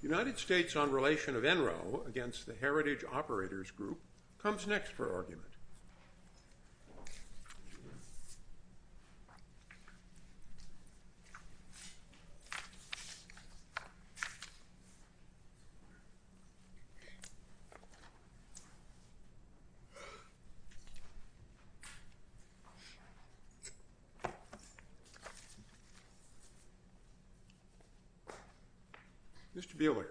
The United States on Relation of Enroe v. Heritage Operators Group comes next for argument. Mr. Buehler.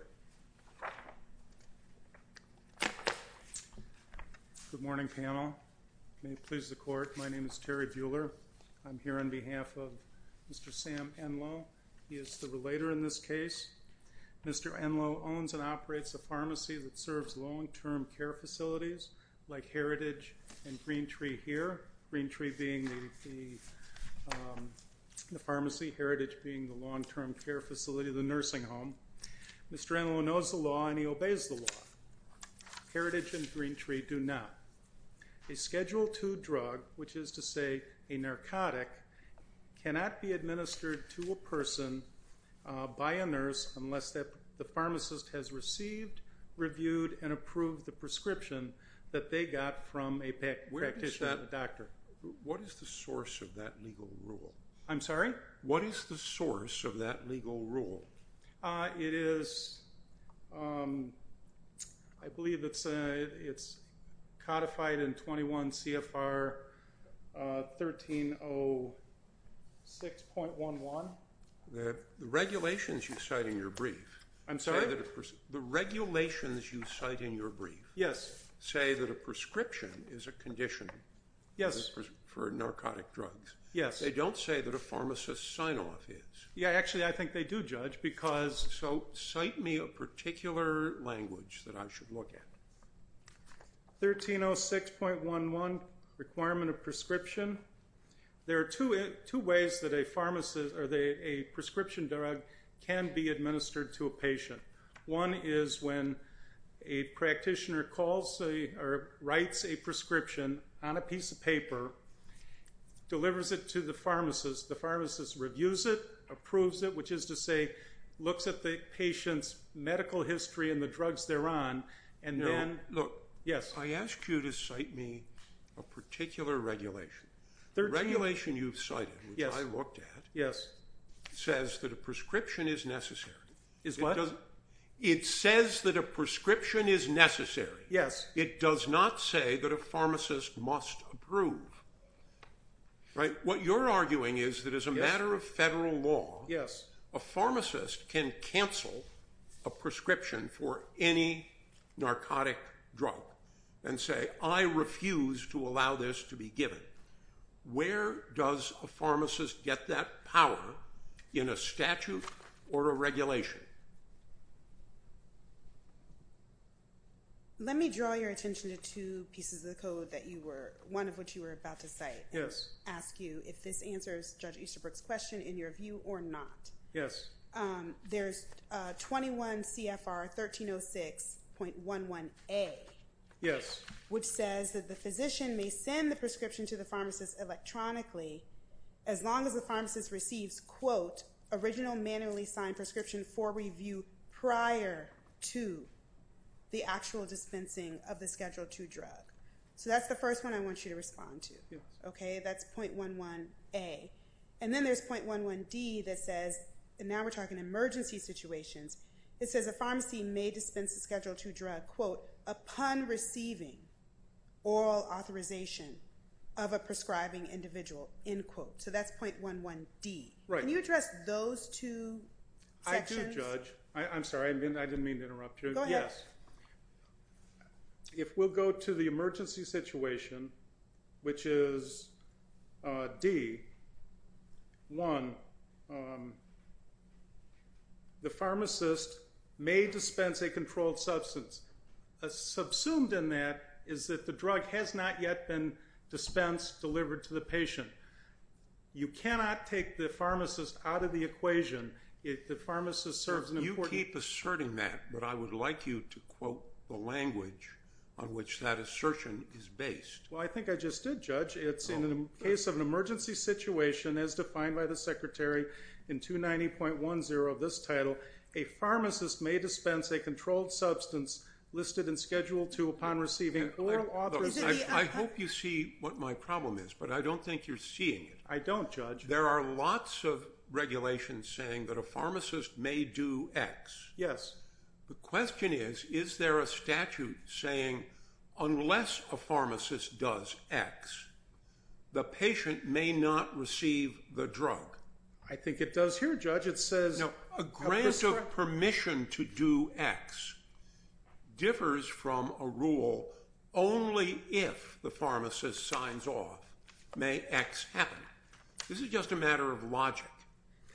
Good morning, panel. May it please the Court, my name is Terry Buehler. I'm here on behalf of Mr. Sam Enloe. He is the relator in this case. Mr. Enloe owns and operates a pharmacy that serves long-term care facilities like Heritage and Green Tree here. Green Tree being the pharmacy, Heritage being the long-term care facility, the nursing home. Mr. Enloe knows the law and he obeys the law. Heritage and Green Tree do not. A Schedule II drug, which is to say a narcotic, cannot be administered to a person by a nurse unless the pharmacist has received, reviewed, and approved the prescription that they got from a practitioner or doctor. What is the source of that legal rule? I'm sorry? What is the source of that legal rule? It is, I believe it's codified in 21 CFR 1306.11. The regulations you cite in your brief say that a prescription is a condition for narcotic drugs. Yes. They don't say that a pharmacist's sign-off is. Yeah, actually I think they do, Judge, because. So cite me a particular language that I should look at. 1306.11, requirement of prescription. There are two ways that a prescription drug can be administered to a patient. One is when a practitioner writes a prescription on a piece of paper, delivers it to the pharmacist. The pharmacist reviews it, approves it, which is to say looks at the patient's medical history and the drugs they're on, and then. No, look. Yes. I ask you to cite me a particular regulation. The regulation you've cited, which I looked at, says that a prescription is necessary. It says that a prescription is necessary. Yes. It does not say that a pharmacist must approve. Right? What you're arguing is that as a matter of federal law. Yes. A pharmacist can cancel a prescription for any narcotic drug and say I refuse to allow this to be given. Where does a pharmacist get that power in a statute or a regulation? Let me draw your attention to two pieces of the code that you were, one of which you were about to cite. Yes. And ask you if this answers Judge Easterbrook's question in your view or not. Yes. There's 21 CFR 1306.11A. Yes. Which says that the physician may send the prescription to the pharmacist electronically as long as the pharmacist receives, quote, original manually signed prescription for review prior to the actual dispensing of the Schedule II drug. So that's the first one I want you to respond to. Okay? That's .11A. And then there's .11D that says, and now we're talking emergency situations, it says a pharmacy may dispense a Schedule II drug, quote, upon receiving oral authorization of a prescribing individual, end quote. So that's .11D. Right. Can you address those two sections? I do, Judge. I'm sorry. I didn't mean to interrupt you. Go ahead. Yes. If we'll go to the emergency situation, which is D, one, the pharmacist may dispense a controlled substance. Subsumed in that is that the drug has not yet been dispensed, delivered to the patient. You cannot take the pharmacist out of the equation if the pharmacist serves an important – You keep asserting that, but I would like you to quote the language on which that assertion is based. Well, I think I just did, Judge. It's in the case of an emergency situation as defined by the Secretary in 290.10 of this title, a pharmacist may dispense a controlled substance listed in Schedule II upon receiving oral authorization – I hope you see what my problem is, but I don't think you're seeing it. I don't, Judge. There are lots of regulations saying that a pharmacist may do X. Yes. The question is, is there a statute saying unless a pharmacist does X, the patient may not receive the drug? I think it does here, Judge. A grant of permission to do X differs from a rule only if the pharmacist signs off, may X happen. This is just a matter of logic.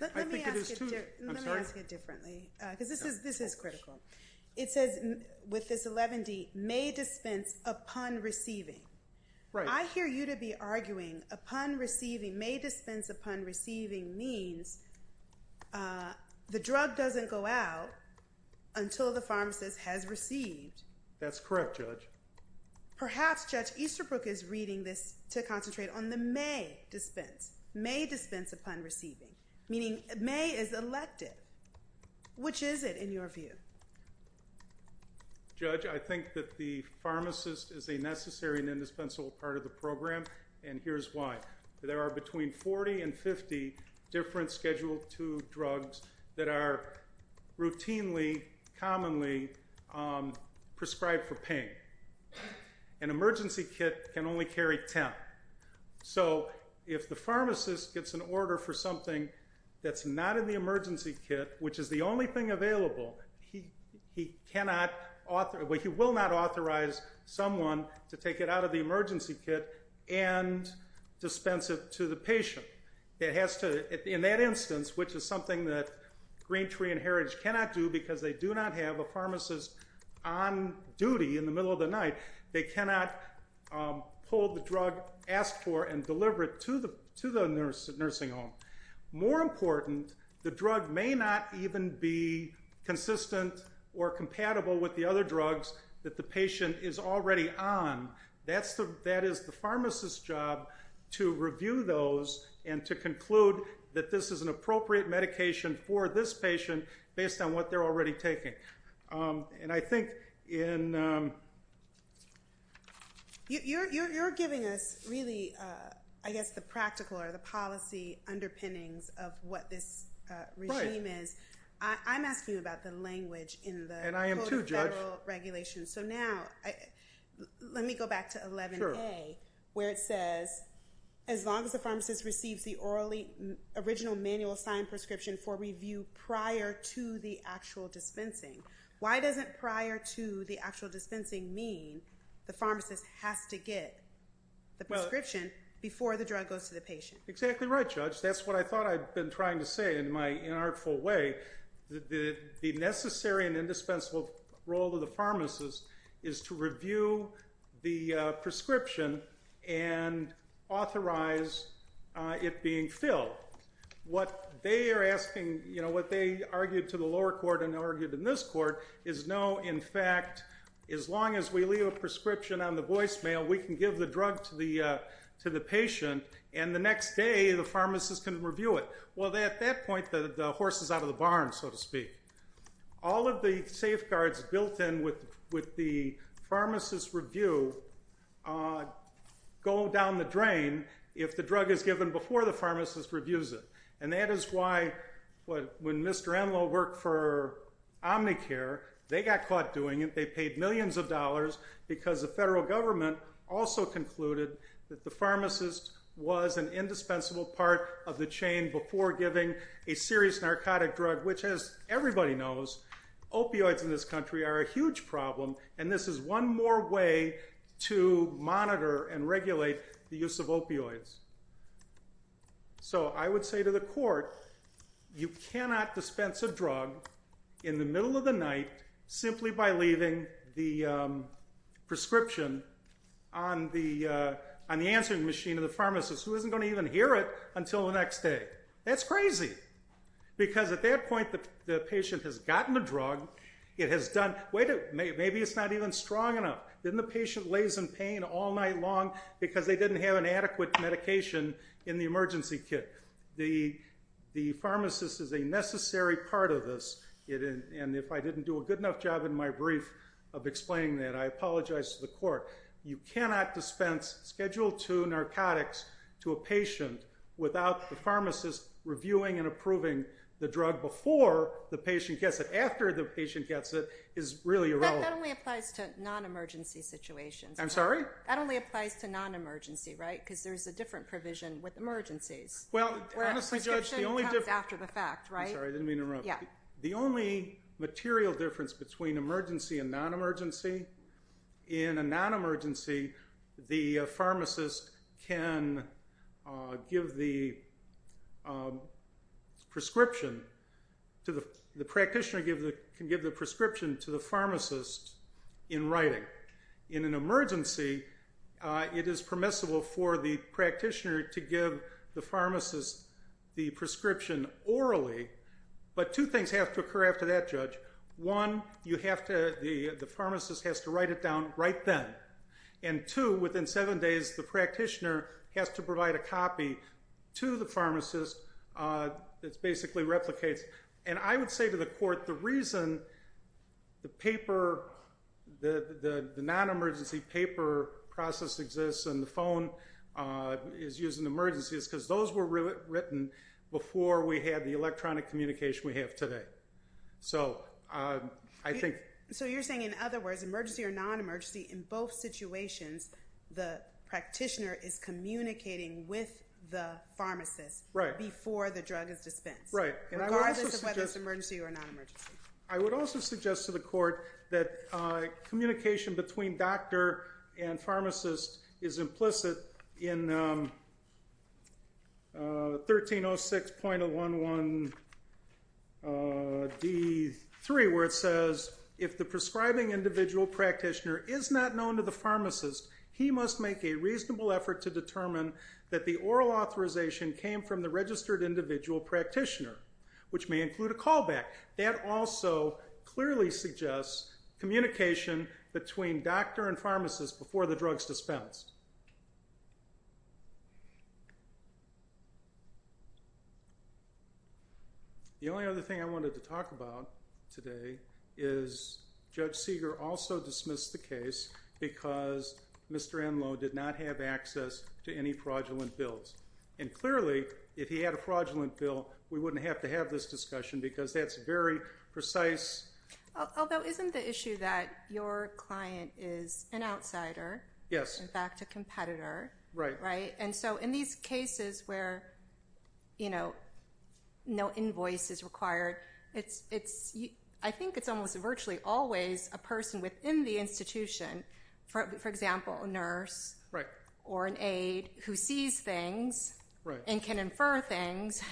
Let me ask it differently because this is critical. It says with this 11D, may dispense upon receiving. I hear you to be arguing upon receiving, may dispense upon receiving means the drug doesn't go out until the pharmacist has received. That's correct, Judge. Perhaps, Judge, Easterbrook is reading this to concentrate on the may dispense, may dispense upon receiving, meaning may is elective. Which is it in your view? Judge, I think that the pharmacist is a necessary and indispensable part of the program, and here's why. There are between 40 and 50 different Schedule II drugs that are routinely, commonly prescribed for pain. An emergency kit can only carry 10. So if the pharmacist gets an order for something that's not in the emergency kit, which is the only thing available, he cannot authorize, well, he will not authorize someone to take it out of the emergency kit and dispense it to the patient. It has to, in that instance, which is something that Green Tree and Heritage cannot do because they do not have a pharmacist on duty in the middle of the night, they cannot pull the drug, ask for it, and deliver it to the nursing home. More important, the drug may not even be consistent or compatible with the other drugs that the patient is already on. That is the pharmacist's job to review those and to conclude that this is an appropriate medication for this patient based on what they're already taking. And I think in... You're giving us really, I guess, the practical or the policy underpinnings of what this regime is. I'm asking you about the language in the federal regulations. So now, let me go back to 11A where it says, Why doesn't prior to the actual dispensing mean the pharmacist has to get the prescription before the drug goes to the patient? Exactly right, Judge. That's what I thought I'd been trying to say in my inartful way. The necessary and indispensable role of the pharmacist is to review the prescription and authorize it being filled. What they argued to the lower court and argued in this court is no, in fact, as long as we leave a prescription on the voicemail, we can give the drug to the patient and the next day the pharmacist can review it. Well, at that point, the horse is out of the barn, so to speak. All of the safeguards built in with the pharmacist's review go down the drain if the drug is given before the pharmacist reviews it. And that is why when Mr. Enloe worked for Omnicare, they got caught doing it. They paid millions of dollars because the federal government also concluded that the pharmacist was an indispensable part of the chain before giving a serious narcotic drug, which, as everybody knows, opioids in this country are a huge problem, and this is one more way to monitor and regulate the use of opioids. So I would say to the court, you cannot dispense a drug in the middle of the night simply by leaving the prescription on the answering machine of the pharmacist who isn't going to even hear it until the next day. That's crazy. Because at that point, the patient has gotten the drug. It has done. Wait a minute, maybe it's not even strong enough. Then the patient lays in pain all night long because they didn't have an adequate medication in the emergency kit. The pharmacist is a necessary part of this, and if I didn't do a good enough job in my brief of explaining that, I apologize to the court. You cannot dispense Schedule II narcotics to a patient without the pharmacist reviewing and approving the drug before the patient gets it. After the patient gets it is really irrelevant. That only applies to non-emergency situations. I'm sorry? That only applies to non-emergency, right? Because there's a different provision with emergencies, where a prescription comes after the fact, right? I'm sorry, I didn't mean to interrupt. Yeah. The only material difference between emergency and non-emergency, in a non-emergency, the practitioner can give the prescription to the pharmacist in writing. In an emergency, it is permissible for the practitioner to give the pharmacist the prescription orally. But two things have to occur after that, Judge. One, the pharmacist has to write it down right then. And two, within seven days, the practitioner has to provide a copy to the pharmacist that basically replicates. And I would say to the court, the reason the paper, the non-emergency paper process exists and the phone is used in emergencies is because those were written before we had the electronic communication we have today. So, I think... So you're saying, in other words, emergency or non-emergency, in both situations, the practitioner is communicating with the pharmacist before the drug is dispensed. Right. Regardless of whether it's emergency or non-emergency. I would also suggest to the court that communication between doctor and pharmacist is implicit in 1306.11d.3, where it says, if the prescribing individual practitioner is not known to the pharmacist, he must make a reasonable effort to determine that the oral authorization came from the registered individual practitioner, which may include a callback. That also clearly suggests communication between doctor and pharmacist before the drug is dispensed. The only other thing I wanted to talk about today is Judge Seeger also dismissed the case because Mr. Enloe did not have access to any fraudulent bills. And clearly, if he had a fraudulent bill, we wouldn't have to have this discussion because that's very precise. Although, isn't the issue that your client is an outsider? Yes. In fact, a competitor. Right. Right? And so, in these cases where, you know, no invoice is required, it's... I think it's almost virtually always a person within the institution, for example, a nurse... ...or an aide who sees things... Right. ...and can infer things,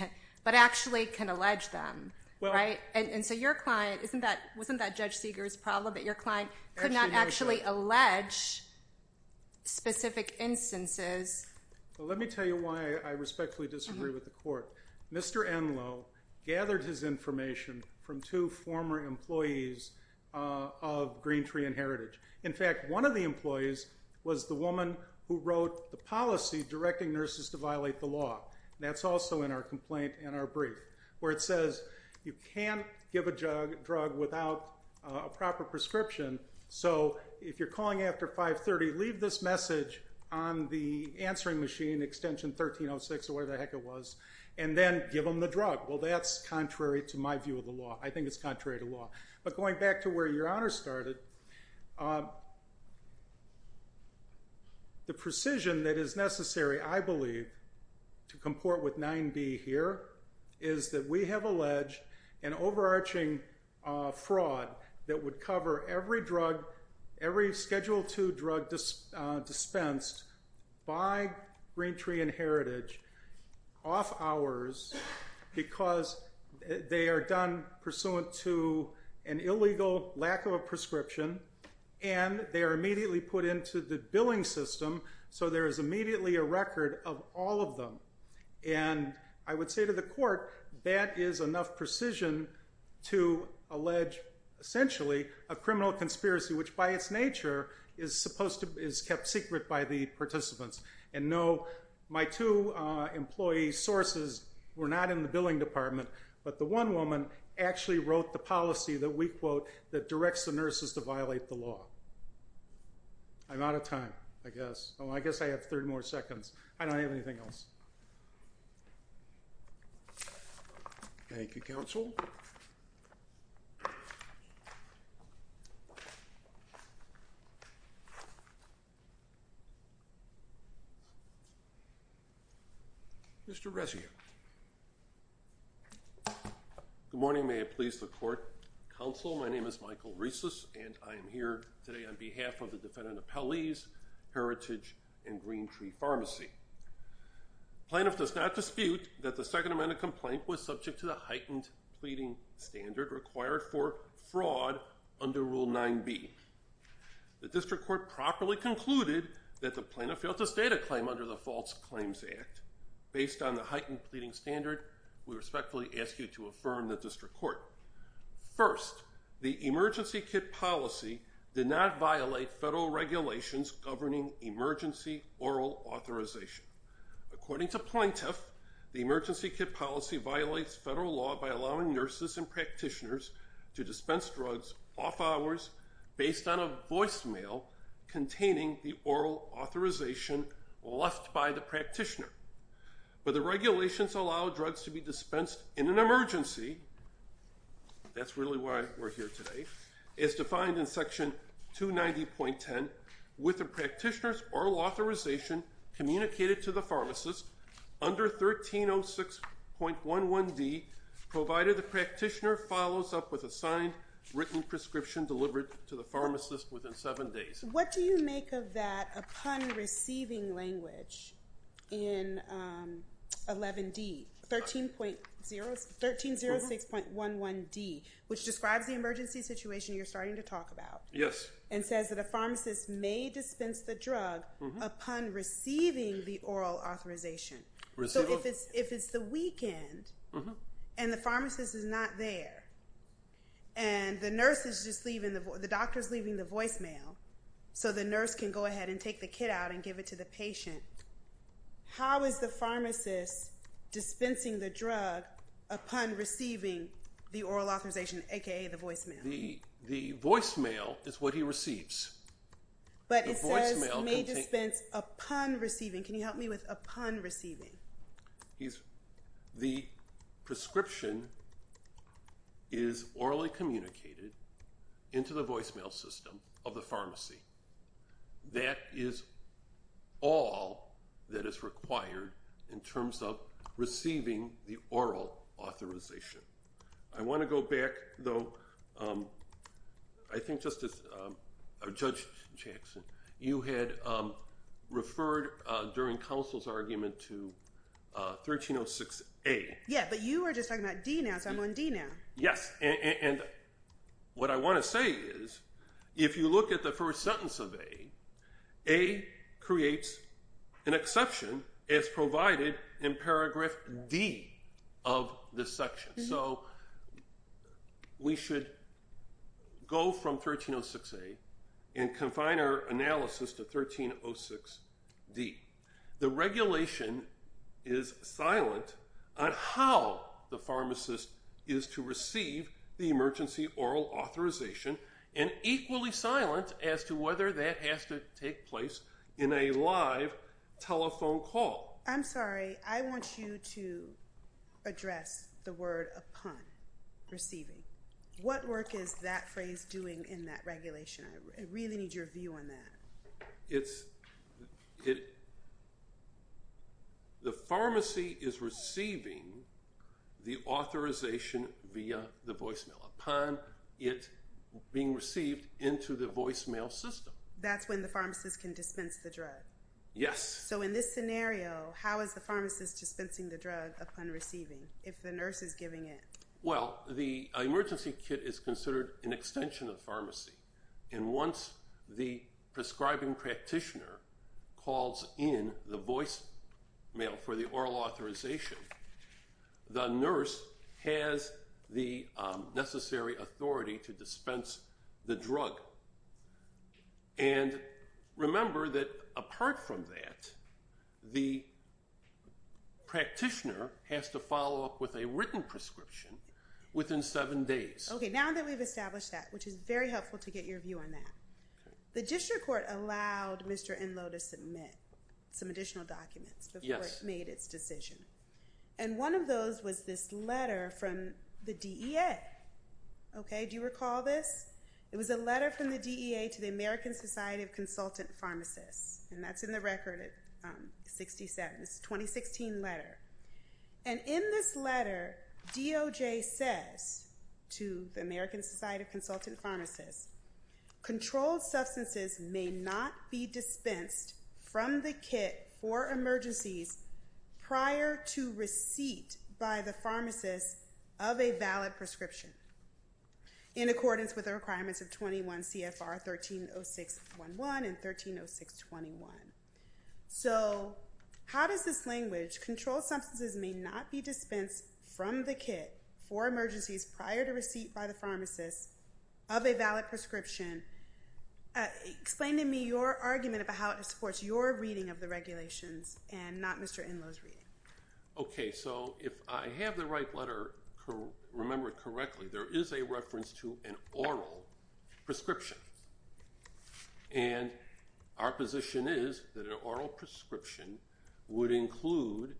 but actually can allege them. Well... Right? And so your client, wasn't that Judge Seeger's problem that your client could not actually allege specific instances? Well, let me tell you why I respectfully disagree with the court. Mr. Enloe gathered his information from two former employees of Green Tree and Heritage. In fact, one of the employees was the woman who wrote the policy directing nurses to violate the law. That's also in our complaint and our brief where it says you can't give a drug without a proper prescription. So, if you're calling after 530, leave this message on the answering machine, extension 1306, or whatever the heck it was, and then give them the drug. Well, that's contrary to my view of the law. I think it's contrary to law. But going back to where your Honor started, the precision that is necessary, I believe, to comport with 9B here, is that we have alleged an overarching fraud that would cover every drug, every Schedule II drug dispensed by Green Tree and Heritage off-hours because they are done pursuant to an illegal lack of a prescription, and they are immediately put into the billing system, so there is immediately a record of all of them. And I would say to the court that is enough precision to allege, essentially, a criminal conspiracy, which by its nature is kept secret by the participants. And no, my two employee sources were not in the billing department, but the one woman actually wrote the policy that we quote that directs the nurses to violate the law. I'm out of time, I guess. Oh, I guess I have 30 more seconds. I don't have anything else. Thank you, Counsel. Mr. Resigat. Good morning. May it please the Court. Counsel, my name is Michael Resis, and I am here today on behalf of the defendant of Pelley's, Heritage, and Green Tree Pharmacy. Plaintiff does not dispute that the second amendment complaint was subject to the heightened pleading standard required for fraud under Rule 9B. The district court properly concluded that the plaintiff failed to state a claim under the False Claims Act. Based on the heightened pleading standard, we respectfully ask you to affirm the district court. First, the emergency kit policy did not violate federal regulations governing emergency oral authorization. According to plaintiff, the emergency kit policy violates federal law by allowing nurses and practitioners to dispense drugs off hours based on a voicemail containing the oral authorization left by the practitioner. But the regulations allow drugs to be dispensed in an emergency. That's really why we're here today. As defined in Section 290.10, with the practitioner's oral authorization communicated to the pharmacist under 1306.11d, provided the practitioner follows up with a signed written prescription delivered to the pharmacist within seven days. What do you make of that upon receiving language in 11d, 1306.11d, which describes the emergency situation you're starting to talk about. Yes. And says that a pharmacist may dispense the drug upon receiving the oral authorization. So if it's the weekend, and the pharmacist is not there, and the doctor's leaving the voicemail so the nurse can go ahead and take the kit out and give it to the patient, how is the pharmacist dispensing the drug upon receiving the oral authorization, a.k.a. the voicemail? The voicemail is what he receives. But it says may dispense upon receiving. Can you help me with upon receiving? The prescription is orally communicated into the voicemail system of the pharmacy. That is all that is required in terms of receiving the oral authorization. I want to go back, though. I think just as Judge Jackson, you had referred during counsel's argument to 1306A. Yeah, but you were just talking about D now, so I'm on D now. Yes. And what I want to say is if you look at the first sentence of A, A creates an exception as provided in paragraph D of this section. So we should go from 1306A and confine our analysis to 1306D. The regulation is silent on how the pharmacist is to receive the emergency oral authorization and equally silent as to whether that has to take place in a live telephone call. I'm sorry. I want you to address the word upon receiving. What work is that phrase doing in that regulation? I really need your view on that. It's the pharmacy is receiving the authorization via the voicemail upon it being received into the voicemail system. That's when the pharmacist can dispense the drug. Yes. So in this scenario, how is the pharmacist dispensing the drug upon receiving if the nurse is giving it? Well, the emergency kit is considered an extension of pharmacy, and once the prescribing practitioner calls in the voicemail for the oral authorization, the nurse has the necessary authority to dispense the drug. And remember that apart from that, the practitioner has to follow up with a written prescription within seven days. Okay. Now that we've established that, which is very helpful to get your view on that, the district court allowed Mr. Enloe to submit some additional documents before it made its decision, and one of those was this letter from the DEA. Okay. Do you recall this? It was a letter from the DEA to the American Society of Consultant Pharmacists, and that's in the Record 67. It's a 2016 letter. And in this letter, DOJ says to the American Society of Consultant Pharmacists, controlled substances may not be dispensed from the kit for emergencies prior to receipt by the pharmacist of a valid prescription in accordance with the requirements of 21 CFR 1306.11 and 1306.21. So how does this language, controlled substances may not be dispensed from the kit for emergencies prior to receipt by the pharmacist of a valid prescription, explain to me your argument about how it supports your reading of the regulations and not Mr. Enloe's reading. Okay. So if I have the right letter remembered correctly, there is a reference to an oral prescription. And our position is that an oral prescription would include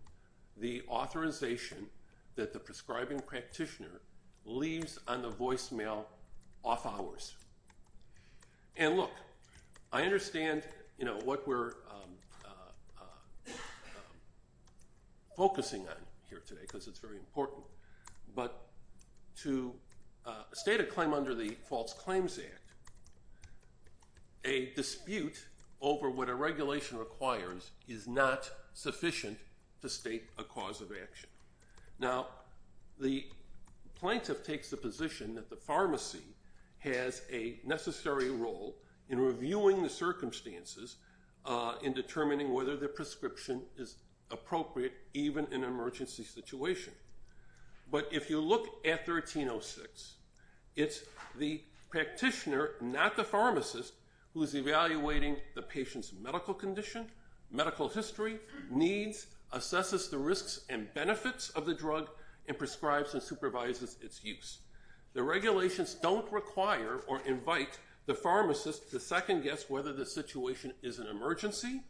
the authorization that the prescribing practitioner leaves on the voicemail off hours. And look, I understand, you know, what we're focusing on here today because it's very important. But to state a claim under the False Claims Act, a dispute over what a regulation requires is not sufficient to state a cause of action. Now, the plaintiff takes the position that the pharmacy has a necessary role in reviewing the circumstances in determining whether the prescription is appropriate even in an emergency situation. But if you look at 1306, it's the practitioner, not the pharmacist, who is evaluating the patient's medical condition, medical history, needs, assesses the risks and benefits of the drug, and prescribes and supervises its use. The regulations don't require or invite the pharmacist to second-guess whether the situation is an emergency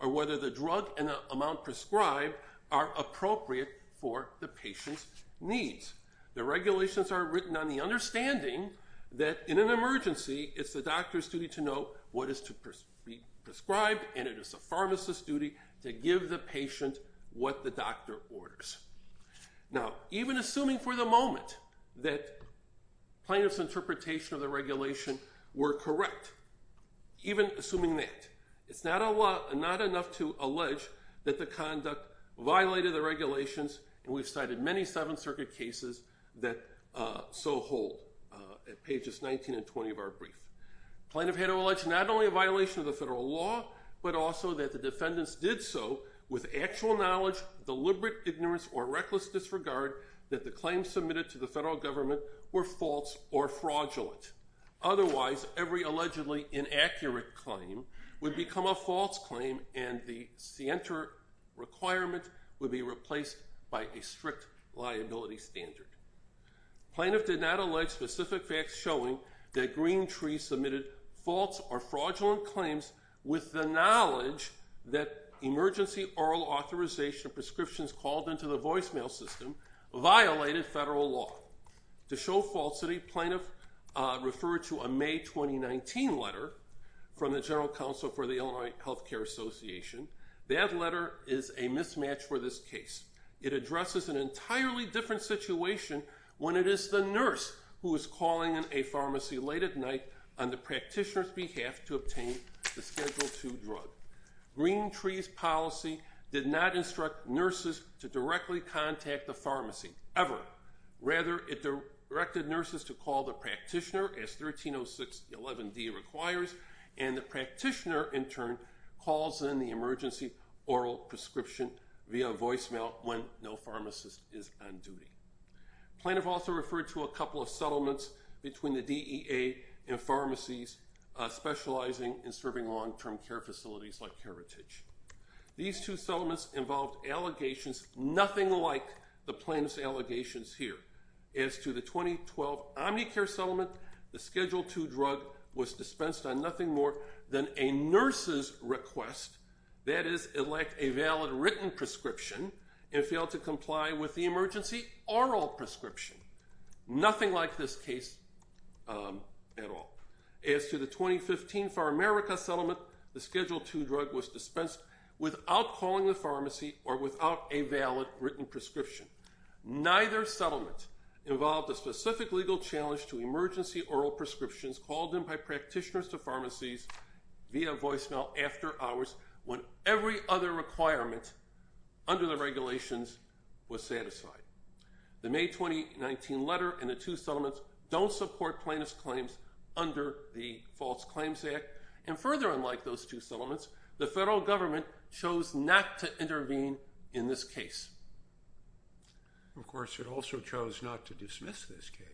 or whether the drug and the amount prescribed are appropriate for the patient's needs. The regulations are written on the understanding that in an emergency, it's the doctor's duty to know what is to be prescribed, and it is the pharmacist's duty to give the patient what the doctor orders. Now, even assuming for the moment that plaintiffs' interpretation of the regulation were correct, even assuming that, it's not enough to allege that the conduct violated the regulations, and we've cited many Seventh Circuit cases that so hold at pages 19 and 20 of our brief. The plaintiff had to allege not only a violation of the federal law, but also that the defendants did so with actual knowledge, deliberate ignorance, or reckless disregard that the claims submitted to the federal government were false or fraudulent. Otherwise, every allegedly inaccurate claim would become a false claim, and the scienter requirement would be replaced by a strict liability standard. Plaintiff did not allege specific facts showing that Green Tree submitted false or fraudulent claims with the knowledge that emergency oral authorization prescriptions called into the voicemail system violated federal law. To show falsity, plaintiff referred to a May 2019 letter from the General Counsel for the Illinois Health Care Association. That letter is a mismatch for this case. It addresses an entirely different situation when it is the nurse who is calling in a pharmacy late at night on the practitioner's behalf to obtain the Schedule II drug. Green Tree's policy did not instruct nurses to directly contact the pharmacy, ever. Rather, it directed nurses to call the practitioner as 1306.11d requires, and the practitioner, in turn, calls in the emergency oral prescription via voicemail when no pharmacist is on duty. Plaintiff also referred to a couple of settlements between the DEA and pharmacies specializing in serving long-term care facilities like Heritage. These two settlements involved allegations nothing like the plaintiff's allegations here. As to the 2012 Omnicare settlement, the Schedule II drug was dispensed on nothing more than a nurse's request, that is, it lacked a valid written prescription and failed to comply with the emergency oral prescription. Nothing like this case at all. As to the 2015 PharAmerica settlement, the Schedule II drug was dispensed without calling the pharmacy or without a valid written prescription. Neither settlement involved a specific legal challenge to emergency oral prescriptions called in by practitioners to pharmacies via voicemail after hours when every other requirement under the regulations was satisfied. The May 2019 letter and the two settlements don't support plaintiff's claims under the False Claims Act. And further, unlike those two settlements, the federal government chose not to intervene in this case. Of course, it also chose not to dismiss this case.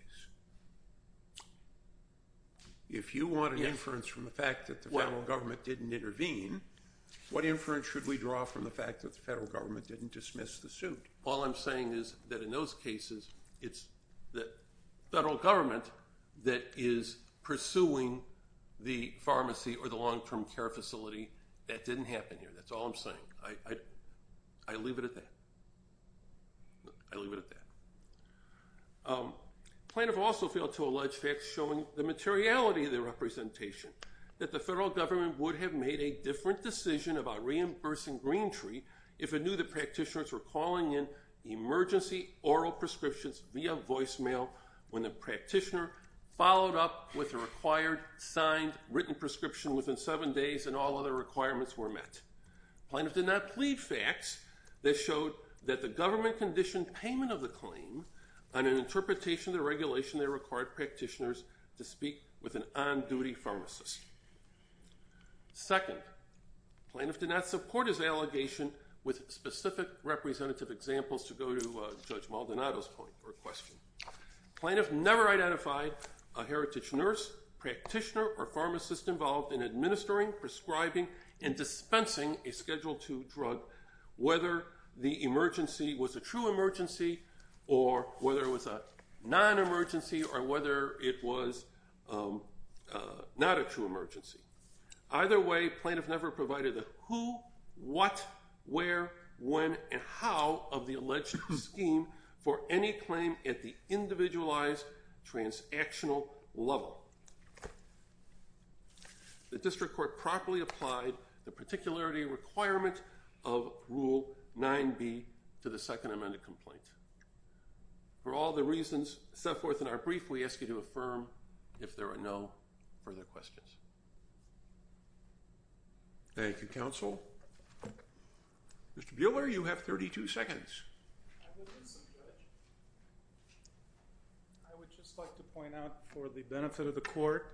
If you want an inference from the fact that the federal government didn't intervene, what inference should we draw from the fact that the federal government didn't dismiss the suit? All I'm saying is that in those cases, it's the federal government that is pursuing the pharmacy or the long-term care facility. That didn't happen here. That's all I'm saying. I leave it at that. I leave it at that. Plaintiff also failed to allege facts showing the materiality of their representation, that the federal government would have made a different decision about reimbursing Green Tree if it knew the practitioners were calling in emergency oral prescriptions via voicemail when the practitioner followed up with a required signed written prescription within seven days and all other requirements were met. Plaintiff did not plead facts that showed that the government conditioned payment of the claim on an interpretation of the regulation that required practitioners to speak with an on-duty pharmacist. Second, plaintiff did not support his allegation with specific representative examples to go to Judge Maldonado's point or question. Plaintiff never identified a heritage nurse, practitioner, or pharmacist involved in administering, prescribing, and dispensing a Schedule II drug, whether the emergency was a true emergency or whether it was a non-emergency or whether it was not a true emergency. Either way, plaintiff never provided the who, what, where, when, and how of the alleged scheme for any claim at the individualized transactional level. The District Court properly applied the particularity requirement of Rule 9b to the second amended complaint. For all the reasons set forth in our brief, we ask you to affirm if there are no further questions. Thank you, Counsel. Mr. Buehler, you have 32 seconds. I would just like to point out for the benefit of the Court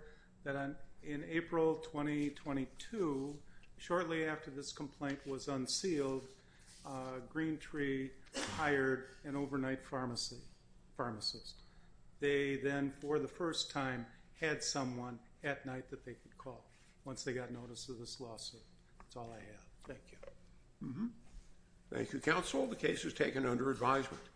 that in April 2022, shortly after this complaint was unsealed, Green Tree hired an overnight pharmacist. They then, for the first time, had someone at night that they could call once they got notice of this lawsuit. That's all I have. Thank you. Thank you, Counsel. The case is taken under advisement.